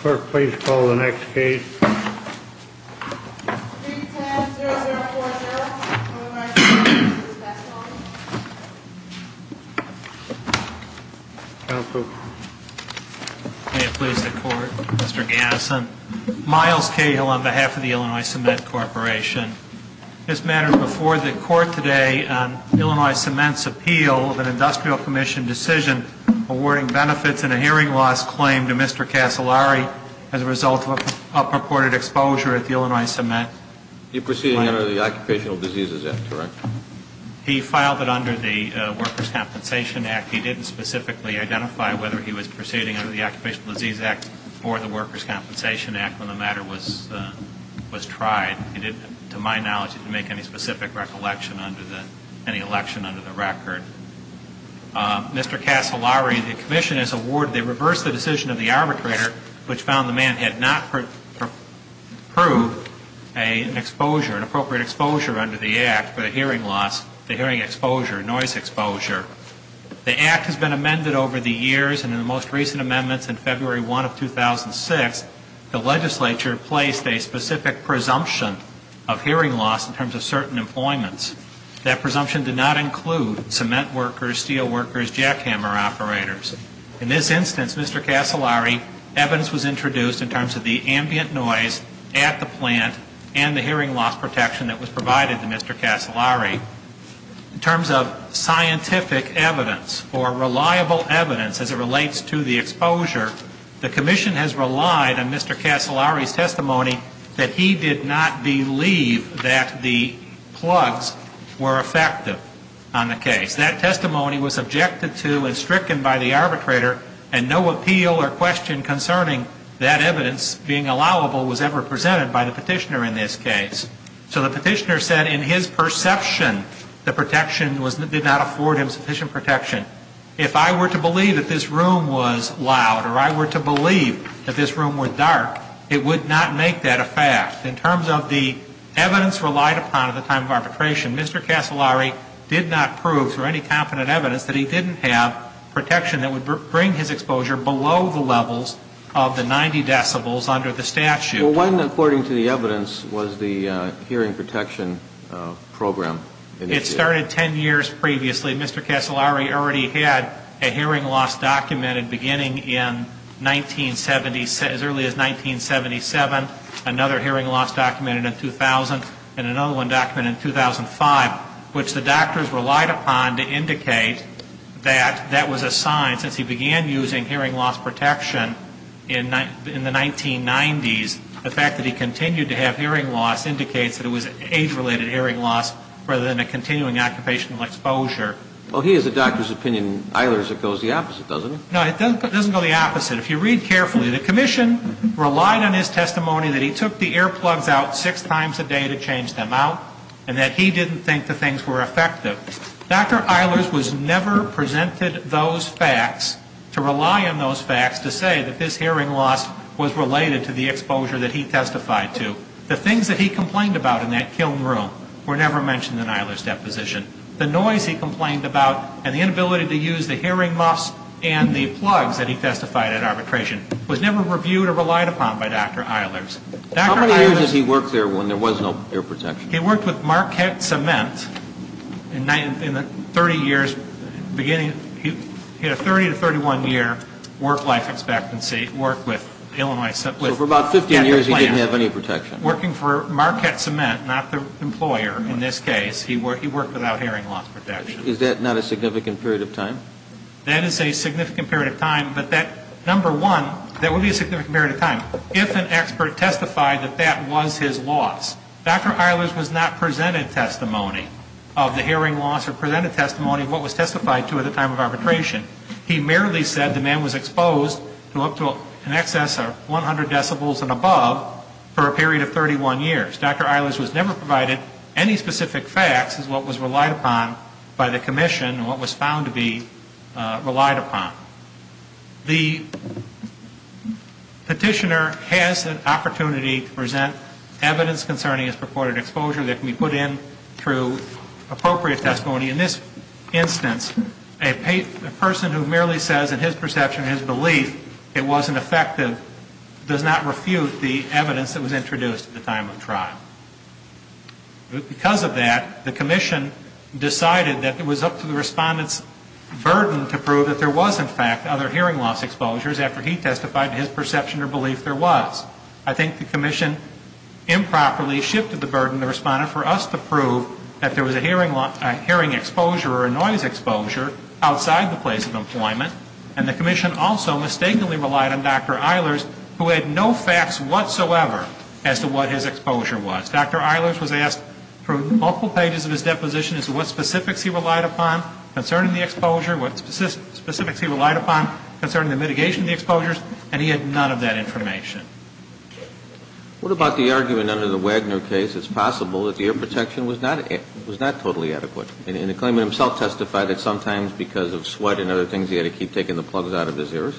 Clerk, please call the next case. Street 10-0040. Illinois Cement v. Specialty. Counsel. May it please the Court, Mr. Gadsden. Miles Cahill on behalf of the Illinois Cement Corporation. This matter is before the Court today on Illinois Cement's appeal of an Industrial Commission decision awarding benefits in a hearing loss claim to Mr. Casolari as a result of a purported exposure at the Illinois Cement plant. He proceeded under the Occupational Diseases Act, correct? He filed it under the Workers' Compensation Act. He didn't specifically identify whether he was proceeding under the Occupational Diseases Act or the Workers' Compensation Act when the matter was tried. He didn't, to my knowledge, make any specific recollection under the, any election under the record. Mr. Casolari, the Commission has awarded, they reversed the decision of the arbitrator which found the man had not proved an exposure, an appropriate exposure under the Act for the hearing loss, the hearing exposure, noise exposure. The Act has been amended over the years and in the most recent amendments in February 1 of 2006, the legislature placed a specific presumption of hearing loss in terms of certain employments. That presumption did not include cement workers, steel workers, jackhammer operators. In this instance, Mr. Casolari, evidence was introduced in terms of the ambient noise at the plant and the hearing loss protection that was provided to Mr. Casolari. In terms of scientific evidence or reliable evidence as it relates to the exposure, the Commission has relied on Mr. Casolari's testimony that he did not believe that the plugs were effective on the case. That testimony was objected to and stricken by the arbitrator and no appeal or question concerning that evidence being allowable was ever presented by the petitioner in this case. So the petitioner said in his perception the protection did not afford him sufficient protection. If I were to believe that this room was loud or I were to believe that this room was dark, it would not make that a fact. In terms of the evidence relied upon at the time of arbitration, Mr. Casolari did not prove through any competent evidence that he didn't have protection that would bring his exposure below the levels of the 90 decibels under the statute. Well, when, according to the evidence, was the hearing protection program initiated? It started 10 years previously. Mr. Casolari already had a hearing loss document in beginning in 1970, as early as 1977, another hearing loss document in 2000, and another one documented in 2005, which the doctors relied upon to indicate that that was a sign, since he began using hearing loss protection in the 1990s, the fact that he continued to have hearing loss indicates that it was age-related hearing loss rather than a continuing occupational exposure. Well, he has a doctor's opinion. Eilers, it goes the opposite, doesn't it? No, it doesn't go the opposite. If you read carefully, the commission relied on his testimony that he took the earplugs out six times a day to change them out, and that he didn't think the things were effective. Dr. Eilers was never presented those facts to rely on those facts to say that his hearing loss was related to the exposure that he testified to. The things that he complained about in that kiln room were never mentioned in Eilers' deposition. The noise he complained about and the inability to use the hearing muffs and the plugs that he testified at arbitration was never reviewed or relied upon by Dr. Eilers. How many years did he work there when there was no ear protection? He worked with Marquette Cement in the 30 years beginning. He had a 30 to 31-year work-life expectancy, worked with Illinois. So for about 15 years he didn't have any protection. Working for Marquette Cement, not the employer in this case, he worked without hearing loss protection. Is that not a significant period of time? That is a significant period of time, but that, number one, that would be a significant period of time if an expert testified that that was his loss. Dr. Eilers was not presented testimony of the hearing loss or presented testimony of what was testified to at the time of arbitration. He merely said the man was exposed to up to an excess of 100 decibels and above for a period of 31 years. Dr. Eilers was never provided any specific facts as what was relied upon by the commission and what was found to be relied upon. The petitioner has an opportunity to present evidence concerning his purported exposure that can be put in through appropriate testimony. In this instance, a person who merely says in his perception and his belief it wasn't effective does not refute the evidence that was introduced at the time of trial. Because of that, the commission decided that it was up to the respondent's burden to prove that there was, in fact, other hearing loss exposures after he testified to his perception or belief there was. I think the commission improperly shifted the burden to the respondent for us to prove that there was a hearing exposure or a noise exposure outside the place of employment, and the commission also mistakenly relied on Dr. Eilers who had no facts whatsoever as to what his exposure was. Dr. Eilers was asked through multiple pages of his deposition as to what specifics he relied upon concerning the exposure, what specifics he relied upon concerning the mitigation of the exposures, and he had none of that information. What about the argument under the Wagner case? It's possible that the ear protection was not totally adequate, and the claimant himself testified that sometimes because of sweat and other things he had to keep taking the plugs out of his ears?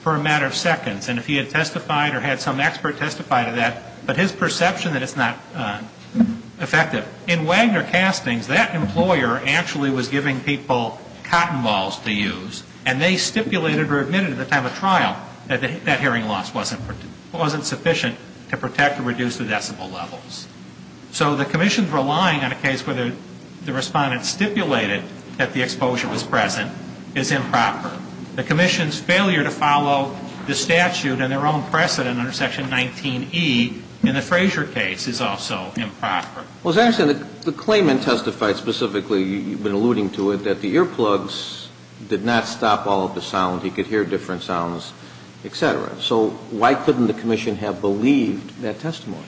For a matter of seconds. And if he had testified or had some expert testify to that, but his perception that it's not effective. In Wagner castings, that employer actually was giving people cotton balls to use, and they stipulated or admitted at the time of trial that that hearing loss wasn't sufficient to protect or reduce the decibel levels. So the commission's relying on a case where the respondent stipulated that the exposure was present is improper. The commission's failure to follow the statute and their own precedent under Section 19E in the Fraser case is also improper. Well, as I understand it, the claimant testified specifically, you've been alluding to it, that the earplugs did not stop all of the sound. He could hear different sounds, et cetera. So why couldn't the commission have believed that testimony?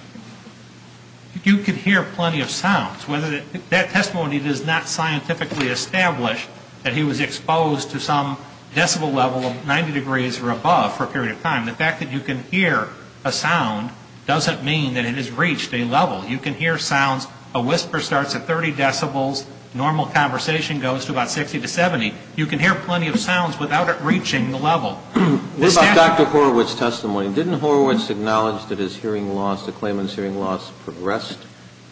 You could hear plenty of sounds. That testimony does not scientifically establish that he was exposed to some decibel level of 90 degrees or above for a period of time. The fact that you can hear a sound doesn't mean that it has reached a level. You can hear sounds. A whisper starts at 30 decibels. Normal conversation goes to about 60 to 70. You can hear plenty of sounds without it reaching the level. What about Dr. Horowitz's testimony? Didn't Horowitz acknowledge that his hearing loss, the claimant's hearing loss, progressed,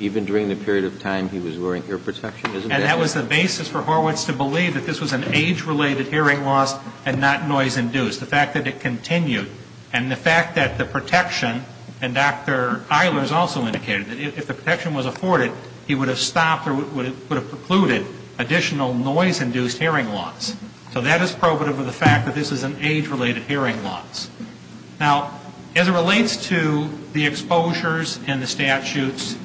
even during the period of time he was wearing ear protection? And that was the basis for Horowitz to believe that this was an age-related hearing loss and not noise-induced, the fact that it continued. And the fact that the protection, and Dr. Eilers also indicated that if the protection was afforded, he would have stopped or would have precluded additional noise-induced hearing loss. So that is probative of the fact that this is an age-related hearing loss. Now, as it relates to the exposures and the statutes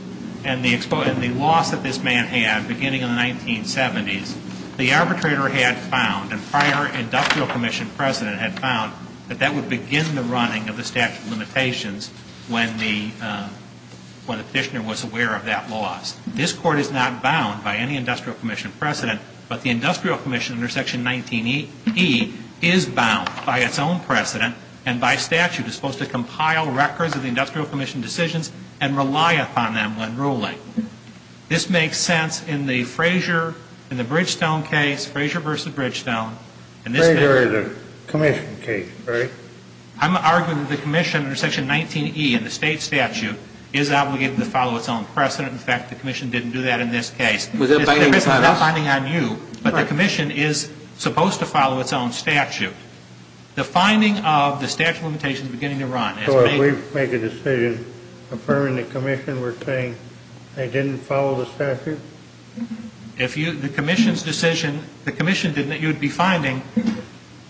and the loss that this man had beginning in the 1970s, the arbitrator had found, and prior industrial commission president had found, that that would begin the running of the statute of limitations when the petitioner was aware of that loss. This Court is not bound by any industrial commission precedent, but the industrial commission under Section 19E is bound by its own precedent and by statute is supposed to compile records of the industrial commission decisions and rely upon them when ruling. This makes sense in the Frazier, in the Bridgestone case, Frazier versus Bridgestone. Frazier is a commission case, right? I'm arguing that the commission under Section 19E in the state statute is obligated to follow its own precedent. In fact, the commission didn't do that in this case. Was that binding on us? The commission is not binding on you, but the commission is supposed to follow its own statute. The finding of the statute of limitations beginning to run. So if we make a decision affirming the commission, we're saying they didn't follow the statute? If the commission's decision, the commission didn't, you'd be finding,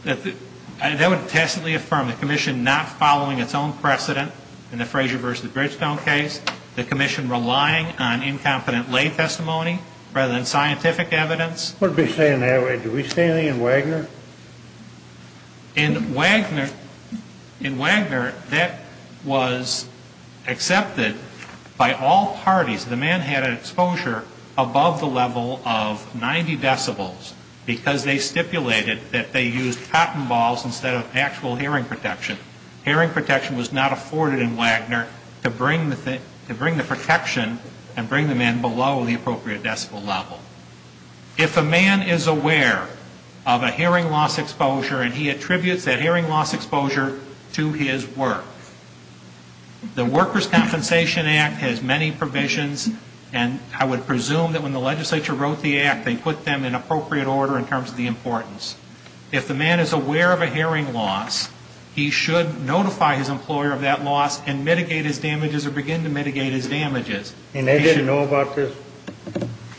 that would tacitly affirm the commission not following its own precedent in the Frazier versus Bridgestone case, the commission relying on incompetent lay testimony rather than scientific evidence. What are we saying that way? Did we say anything in Wagner? In Wagner, that was accepted by all parties. The man had an exposure above the level of 90 decibels because they stipulated that they used cotton balls instead of actual hearing protection. Hearing protection was not afforded in Wagner to bring the protection and bring the man below the appropriate decibel level. If a man is aware of a hearing loss exposure and he attributes that hearing loss exposure to his work, the Workers' Compensation Act has many provisions, and I would presume that when the legislature wrote the act, they put them in appropriate order in terms of the importance. If the man is aware of a hearing loss, he should notify his employer of that loss and mitigate his damages or begin to mitigate his damages. And they didn't know about this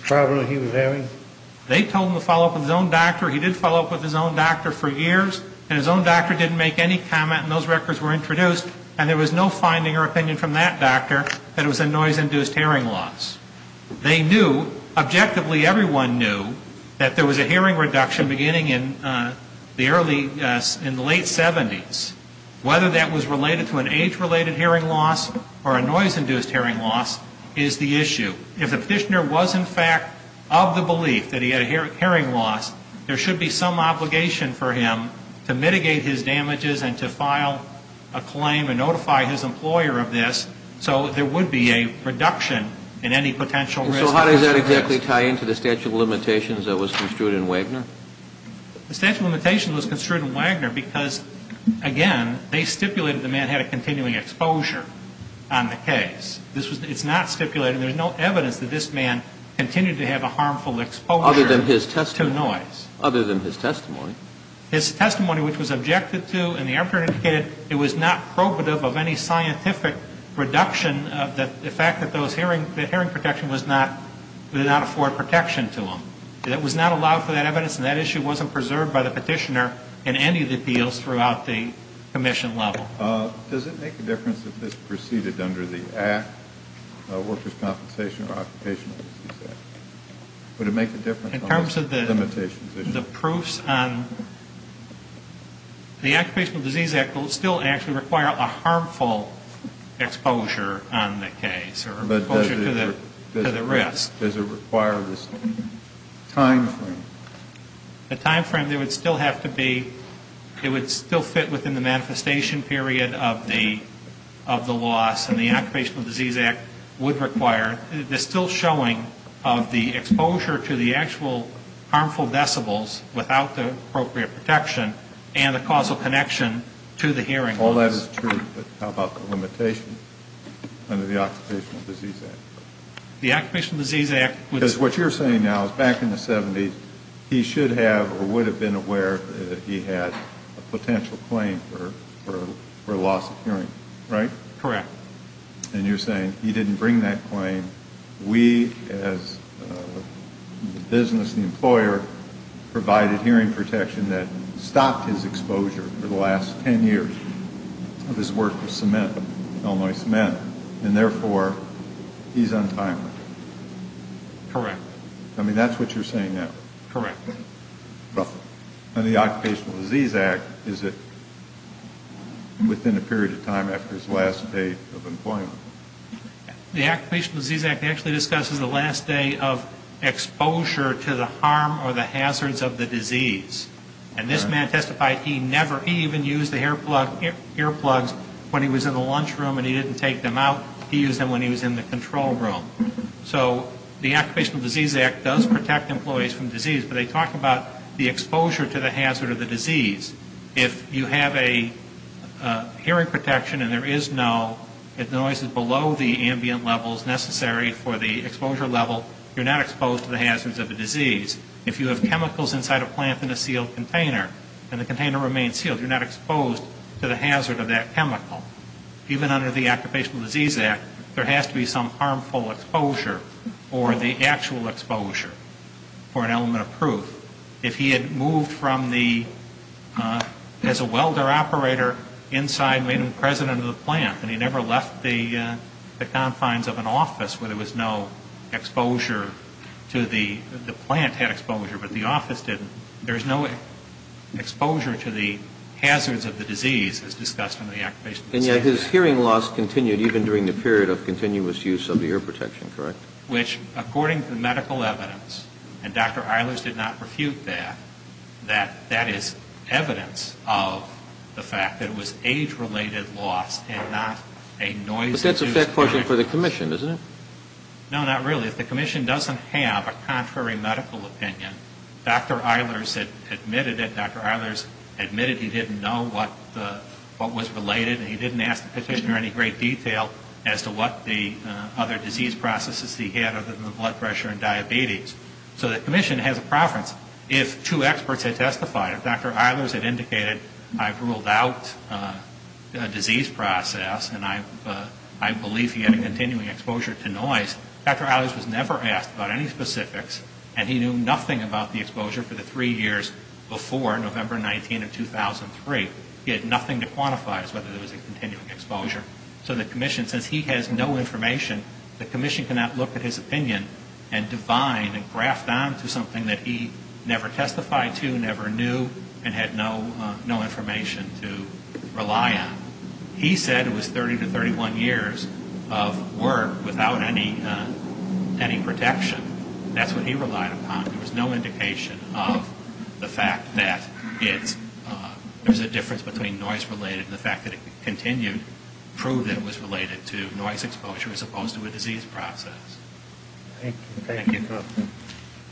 problem he was having? They told him to follow up with his own doctor. He did follow up with his own doctor for years, and his own doctor didn't make any comment, and those records were introduced, and there was no finding or opinion from that doctor that it was a noise-induced hearing loss. They knew, objectively everyone knew, that there was a hearing reduction beginning in the early, in the late 70s. Whether that was related to an age-related hearing loss or a noise-induced hearing loss is the issue. If the petitioner was, in fact, of the belief that he had a hearing loss, there should be some obligation for him to mitigate his damages and to file a claim and notify his employer of this so there would be a reduction in any potential risk. So how does that exactly tie into the statute of limitations that was construed in Wagner? The statute of limitations was construed in Wagner because, again, they stipulated the man had a continuing exposure on the case. It's not stipulated. There's no evidence that this man continued to have a harmful exposure to noise. Other than his testimony. Other than his testimony. His testimony, which was objected to, and the employer indicated it was not probative of any scientific reduction of the fact that those hearing, that hearing protection was not, did not afford protection to him. It was not allowed for that evidence, and that issue wasn't preserved by the petitioner in any of the appeals throughout the commission level. Does it make a difference if this proceeded under the Act, Workers' Compensation or Occupational Disease Act? Would it make a difference on the limitations issue? In terms of the proofs on, the Occupational Disease Act will still actually require a harmful exposure on the case or exposure to the risk. Does it require this time frame? The time frame, it would still have to be, it would still fit within the manifestation period of the loss, and the Occupational Disease Act would require, the still showing of the exposure to the actual harmful decibels without the appropriate protection and the causal connection to the hearing loss. All that is true, but how about the limitation under the Occupational Disease Act? The Occupational Disease Act was... Because what you're saying now is back in the 70s, he should have or would have been aware that he had a potential claim for loss of hearing, right? Correct. And you're saying he didn't bring that claim. We as the business, the employer, provided hearing protection that stopped his exposure for the last 10 years of his work with Cement, Illinois Cement. And therefore, he's untimely. Correct. I mean, that's what you're saying now. Correct. And the Occupational Disease Act, is it within a period of time after his last day of employment? The Occupational Disease Act actually discusses the last day of exposure to the harm or the hazards of the disease. And this man testified he never even used the earplugs when he was in the lunchroom and he didn't take them out. He used them when he was in the control room. So the Occupational Disease Act does protect employees from disease, but they talk about the exposure to the hazard of the disease. If you have a hearing protection and there is no noise below the ambient levels necessary for the exposure level, you're not exposed to the hazards of the disease. If you have chemicals inside a plant in a sealed container and the container remains sealed, you're not exposed to the hazard of that chemical. Even under the Occupational Disease Act, there has to be some harmful exposure or the actual exposure for an element of proof. If he had moved from the, as a welder operator, inside, made him president of the plant, and he never left the confines of an office where there was no exposure to the, the plant had exposure but the office didn't, there's no exposure to the hazards of the disease as discussed in the Occupational Disease Act. And yet his hearing loss continued even during the period of continuous use of the ear protection, correct? Which, according to the medical evidence, and Dr. Eilers did not refute that, that that is evidence of the fact that it was age-related loss and not a noise-induced protection. But that's a fair question for the commission, isn't it? No, not really. If the commission doesn't have a contrary medical opinion, Dr. Eilers admitted it. Dr. Eilers admitted he didn't know what the, what was related, and he didn't ask the petitioner any great detail as to what the other disease processes he had other than the blood pressure and diabetes. So the commission has a preference. If two experts had testified, if Dr. Eilers had indicated, I've ruled out a disease process and I believe he had a continuing exposure to noise, Dr. Eilers was never asked about any specifics, and he knew nothing about the exposure for the three years before November 19 of 2003. He had nothing to quantify as whether there was a continuing exposure. So the commission, since he has no information, the commission cannot look at his opinion and divine and graft on to something that he never testified to, never knew, and had no information to rely on. He said it was 30 to 31 years of work without any protection. That's what he relied upon. There was no indication of the fact that there's a difference between noise-related and the fact that it continued proved that it was related to noise exposure as opposed to a disease process. Thank you.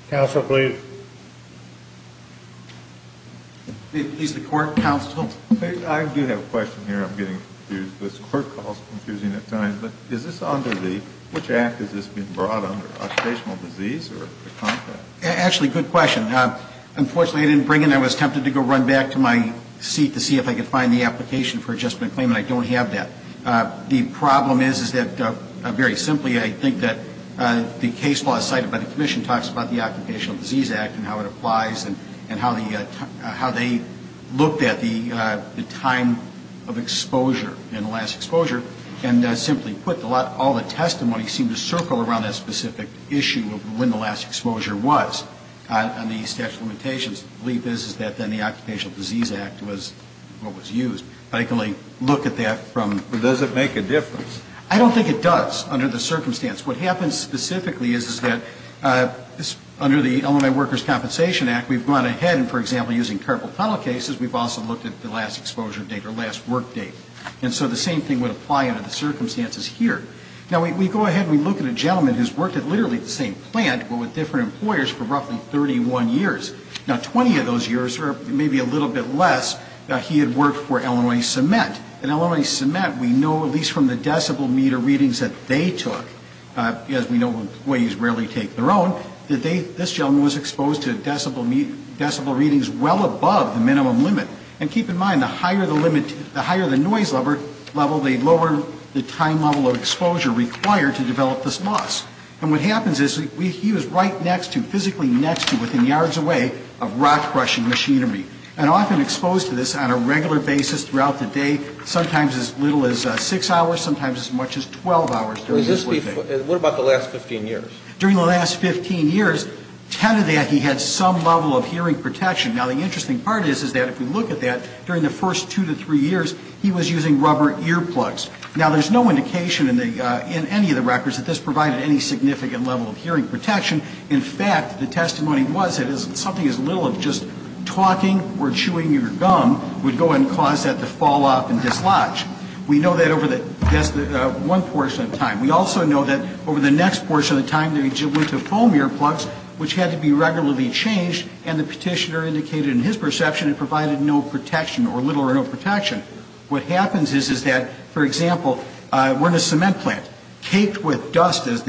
Counsel, please. He's the court counsel. I do have a question here. I'm getting confused. This court call is confusing at times, but is this under the, which act is this being brought under, occupational disease or contract? Actually, good question. Unfortunately, I didn't bring it in. I was tempted to go run back to my seat to see if I could find the application for adjustment claim, and I don't have that. The problem is, is that very simply, I think that the case law cited by the commission talks about the Occupational Disease Act and how it applies and how they looked at the time of exposure and the last exposure, and simply put, all the testimony seemed to circle around that specific issue of when the last exposure was on the statute of limitations. The belief is that then the Occupational Disease Act was what was used. I can only look at that from. Does it make a difference? I don't think it does under the circumstance. What happens specifically is that under the Illinois Workers' Compensation Act, we've gone ahead and, for example, using carpal tunnel cases, we've also looked at the last exposure date or last work date. And so the same thing would apply under the circumstances here. Now, we go ahead and we look at a gentleman who's worked at literally the same plant but with different employers for roughly 31 years. Now, 20 of those years or maybe a little bit less, he had worked for Illinois Cement. At Illinois Cement, we know at least from the decibel meter readings that they took, as we know employees rarely take their own, that this gentleman was exposed to decibel readings well above the minimum limit. And keep in mind, the higher the noise level, the lower the time level of exposure required to develop this loss. And what happens is he was right next to, physically next to, within yards away of rock-crushing machinery and often exposed to this on a regular basis throughout the day, sometimes as little as six hours, sometimes as much as 12 hours. What about the last 15 years? During the last 15 years, 10 of that, he had some level of hearing protection. Now, the interesting part is that if you look at that, during the first two to three years, he was using rubber earplugs. Now, there's no indication in any of the records that this provided any significant level of hearing protection. In fact, the testimony was that something as little as just talking or chewing your gum would go and cause that to fall off and dislodge. We know that over one portion of time. We also know that over the next portion of time, they went to foam earplugs, which had to be regularly changed, and the petitioner indicated in his perception it provided no protection or little or no protection. What happens is that, for example, we're in a cement plant, caked with dust, as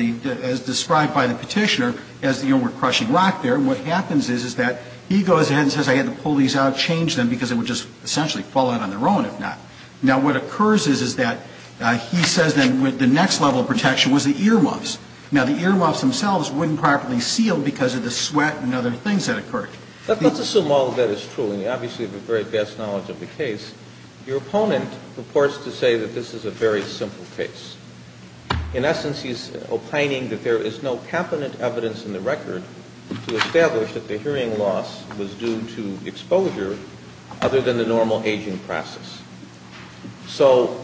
described by the petitioner, as you know, we're crushing rock there, and what happens is that he goes ahead and says I had to pull these out, change them because they would just essentially fall out on their own if not. Now, what occurs is that he says then the next level of protection was the earmuffs. Now, the earmuffs themselves wouldn't properly seal because of the sweat and other things that occurred. Let's assume all of that is true, and you obviously have the very best knowledge of the case. Your opponent purports to say that this is a very simple case. In essence, he is opining that there is no competent evidence in the record to establish that the hearing loss was due to exposure other than the normal aging process. So,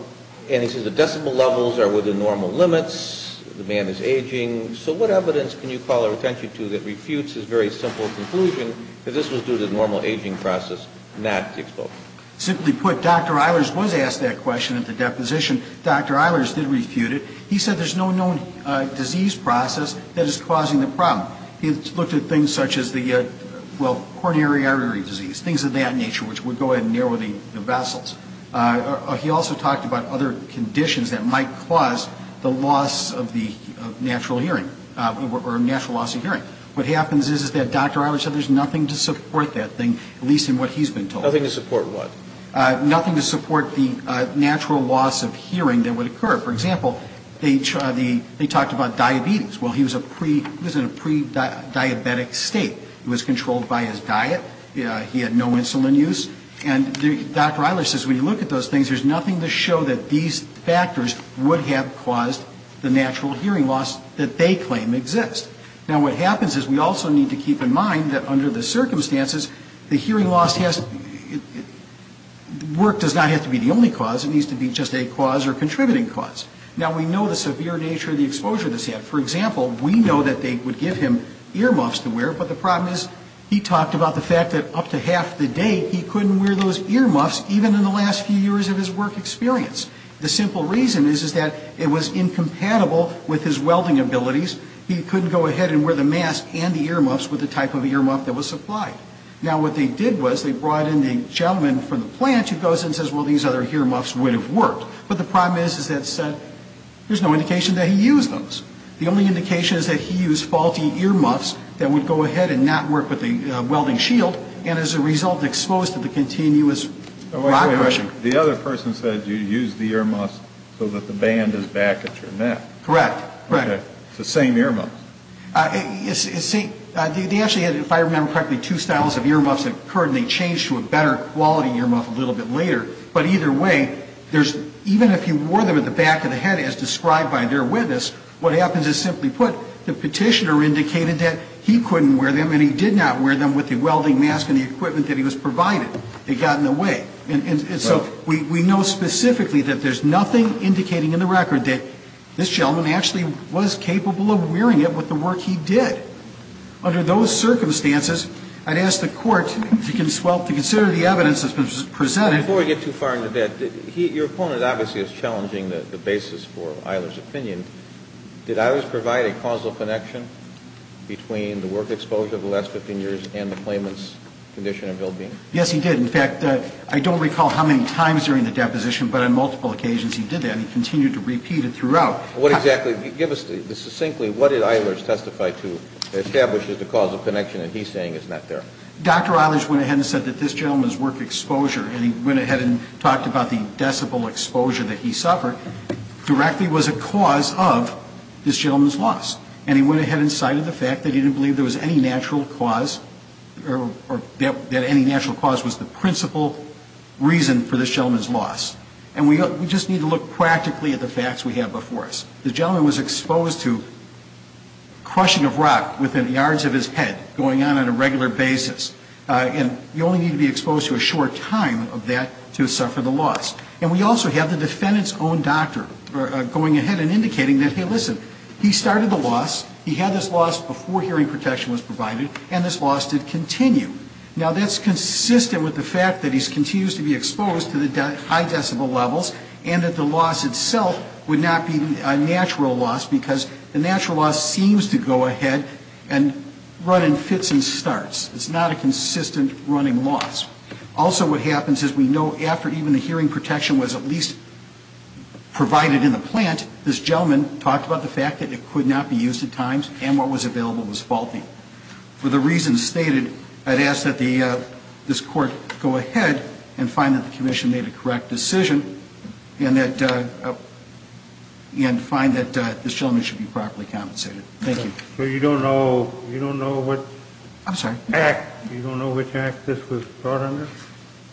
and he says the decibel levels are within normal limits, the man is aging. So what evidence can you call our attention to that refutes his very simple conclusion that this was due to the normal aging process, not the exposure? Simply put, Dr. Eilers was asked that question at the deposition. Dr. Eilers did refute it. He said there's no known disease process that is causing the problem. He looked at things such as the, well, coronary artery disease, things of that nature, which would go ahead and narrow the vessels. He also talked about other conditions that might cause the loss of the natural hearing, or natural loss of hearing. What happens is that Dr. Eilers said there's nothing to support that thing, at least in what he's been told. Nothing to support what? Nothing to support the natural loss of hearing that would occur. For example, they talked about diabetes. Well, he was in a pre-diabetic state. He was controlled by his diet. He had no insulin use. And Dr. Eilers says when you look at those things, there's nothing to show that these factors would have caused the natural hearing loss that they claim exists. Now, what happens is we also need to keep in mind that under the circumstances, the hearing loss has, work does not have to be the only cause. It needs to be just a cause or contributing cause. Now, we know the severe nature of the exposure to this. For example, we know that they would give him earmuffs to wear, but the problem is he talked about the fact that up to half the day, he couldn't wear those earmuffs, even in the last few years of his work experience. The simple reason is that it was incompatible with his welding abilities. He couldn't go ahead and wear the mask and the earmuffs with the type of earmuff that was supplied. Now, what they did was they brought in the gentleman from the plant who goes and says, well, these other earmuffs would have worked. But the problem is that said, there's no indication that he used those. The only indication is that he used faulty earmuffs that would go ahead and not work with the welding shield, and as a result, exposed to the continuous operation. The other person said you used the earmuffs so that the band is back at your neck. Correct. It's the same earmuffs. They actually had, if I remember correctly, two styles of earmuffs that occurred, and they changed to a better quality earmuff a little bit later. But either way, even if you wore them at the back of the head as described by their witness, what happens is simply put, the petitioner indicated that he couldn't wear them and he did not wear them with the welding mask and the equipment that he was provided. They got in the way. And so we know specifically that there's nothing indicating in the record that this gentleman actually was capable of wearing it with the work he did. Under those circumstances, I'd ask the Court to consider the evidence that's been presented. Before we get too far into that, your opponent obviously is challenging the basis for Eilers' opinion. Did Eilers provide a causal connection between the work exposure the last 15 years and the claimant's condition of well-being? Yes, he did. In fact, I don't recall how many times during the deposition, but on multiple occasions he did that. He continued to repeat it throughout. What exactly? Give us succinctly what did Eilers testify to that establishes the causal connection that he's saying is not there? Dr. Eilers went ahead and said that this gentleman's work exposure, and he went ahead and talked about the decibel exposure that he suffered, directly was a cause of this gentleman's loss. And he went ahead and cited the fact that he didn't believe there was any natural cause or that any natural cause was the principal reason for this gentleman's loss. And we just need to look practically at the facts we have before us. The gentleman was exposed to crushing of rock within yards of his head going on on a regular basis, and you only need to be exposed to a short time of that to suffer the loss. And we also have the defendant's own doctor going ahead and indicating that, hey, listen, he started the loss, he had this loss before hearing protection was provided, and this loss did continue. Now, that's consistent with the fact that he continues to be exposed to the high decibel levels and that the loss itself would not be a natural loss because the natural loss seems to go ahead and run in fits and starts. It's not a consistent running loss. Also what happens is we know after even the hearing protection was at least provided in the plant, this gentleman talked about the fact that it could not be used at times and what was available was faulty. For the reasons stated, I'd ask that this court go ahead and find that the commission made a correct decision and find that this gentleman should be properly compensated. Thank you. So you don't know what act, you don't know which act this was brought under?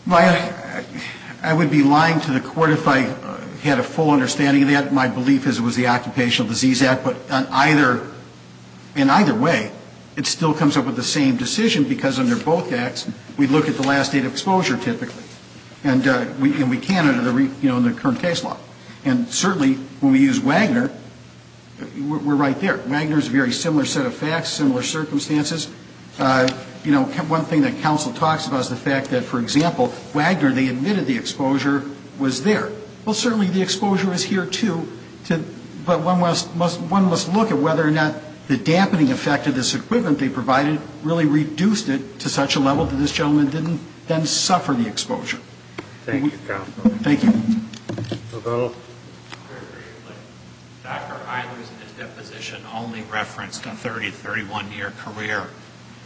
I would be lying to the court if I had a full understanding of that. My belief is it was the Occupational Disease Act, but in either way, it still comes up with the same decision because under both acts we look at the last date of exposure typically. And we can under the current case law. And certainly when we use Wagner, we're right there. Wagner is a very similar set of facts, similar circumstances. One thing that counsel talks about is the fact that, for example, Wagner, they admitted the exposure was there. Well, certainly the exposure is here, too. But one must look at whether or not the dampening effect of this equipment they provided really reduced it to such a level that this gentleman didn't then suffer the exposure. Thank you, counsel. Thank you. Dr. Eilers in his deposition only referenced a 30-, 31-year career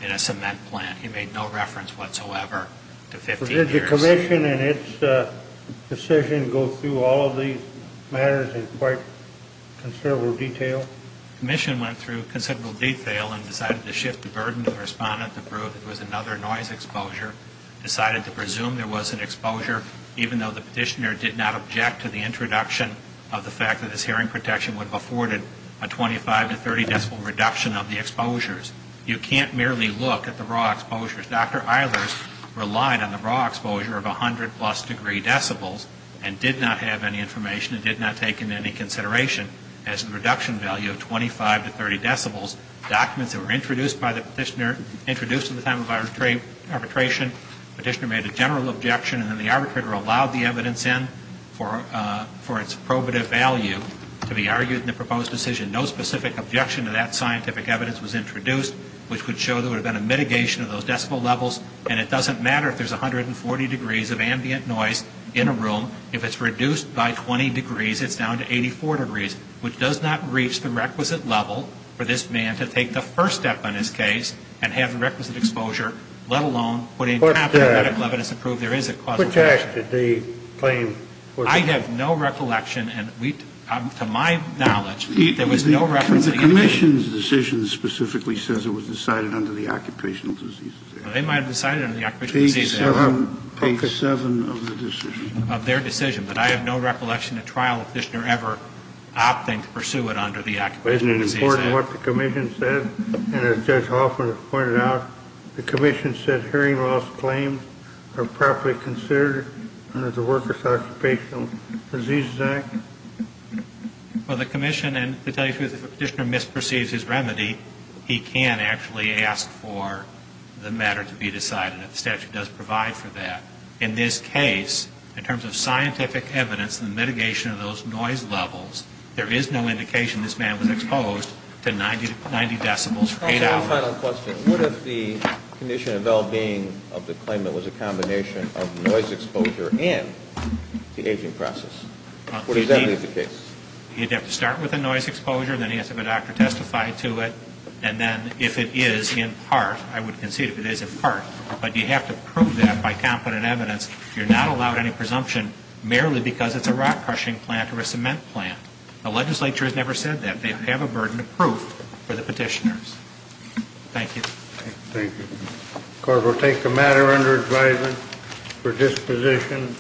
in a cement plant. He made no reference whatsoever to 15 years. Did the commission in its decision go through all of these matters in quite considerable detail? The commission went through considerable detail and decided to shift the burden to the respondent to prove there was another noise exposure, decided to presume there was an exposure, even though the petitioner did not object to the introduction of the fact that his hearing protection would have afforded a 25- to 30-decibel reduction of the exposures. You can't merely look at the raw exposures. Dr. Eilers relied on the raw exposure of 100-plus degree decibels and did not have any information and did not take into any consideration as a reduction value of 25- to 30-decibels. Documents that were introduced by the petitioner, introduced at the time of arbitration, the petitioner made a general objection and then the arbitrator allowed the evidence in for its probative value to be argued in the proposed decision. No specific objection to that scientific evidence was introduced, which would show there would have been a mitigation of those decibel levels, and it doesn't matter if there's 140 degrees of ambient noise in a room. If it's reduced by 20 degrees, it's down to 84 degrees, which does not reach the requisite level for this man to take the first step in his case and have the requisite exposure, let alone putting it on top of the medical evidence to prove there is a causal factor. Which act did they claim? I have no recollection, and to my knowledge, there was no reference to any of that. The Commission's decision specifically says it was decided under the Occupational Diseases Act. They might have decided under the Occupational Diseases Act. Page 7 of the decision. Of their decision. But I have no recollection at trial of the petitioner ever opting to pursue it under the Occupational Diseases Act. But isn't it important what the Commission said? And as Judge Hoffman has pointed out, the Commission said hearing loss claims are properly considered under the Workers' Occupational Diseases Act. Well, the Commission, and to tell you the truth, if a petitioner misperceives his remedy, he can actually ask for the matter to be decided. The statute does provide for that. In this case, in terms of scientific evidence and the mitigation of those noise levels, there is no indication this man was exposed to 90 decibels. One final question. What if the condition of well-being of the claimant was a combination of noise exposure and the aging process? What exactly is the case? You'd have to start with the noise exposure. Then he has to have a doctor testify to it. And then if it is in part, I would concede if it is in part, but you have to prove that by competent evidence. You're not allowed any presumption merely because it's a rock crushing plant or a cement plant. The legislature has never said that. They have a burden of proof for the petitioners. Thank you. Thank you. The Court will take the matter under advisement for disposition.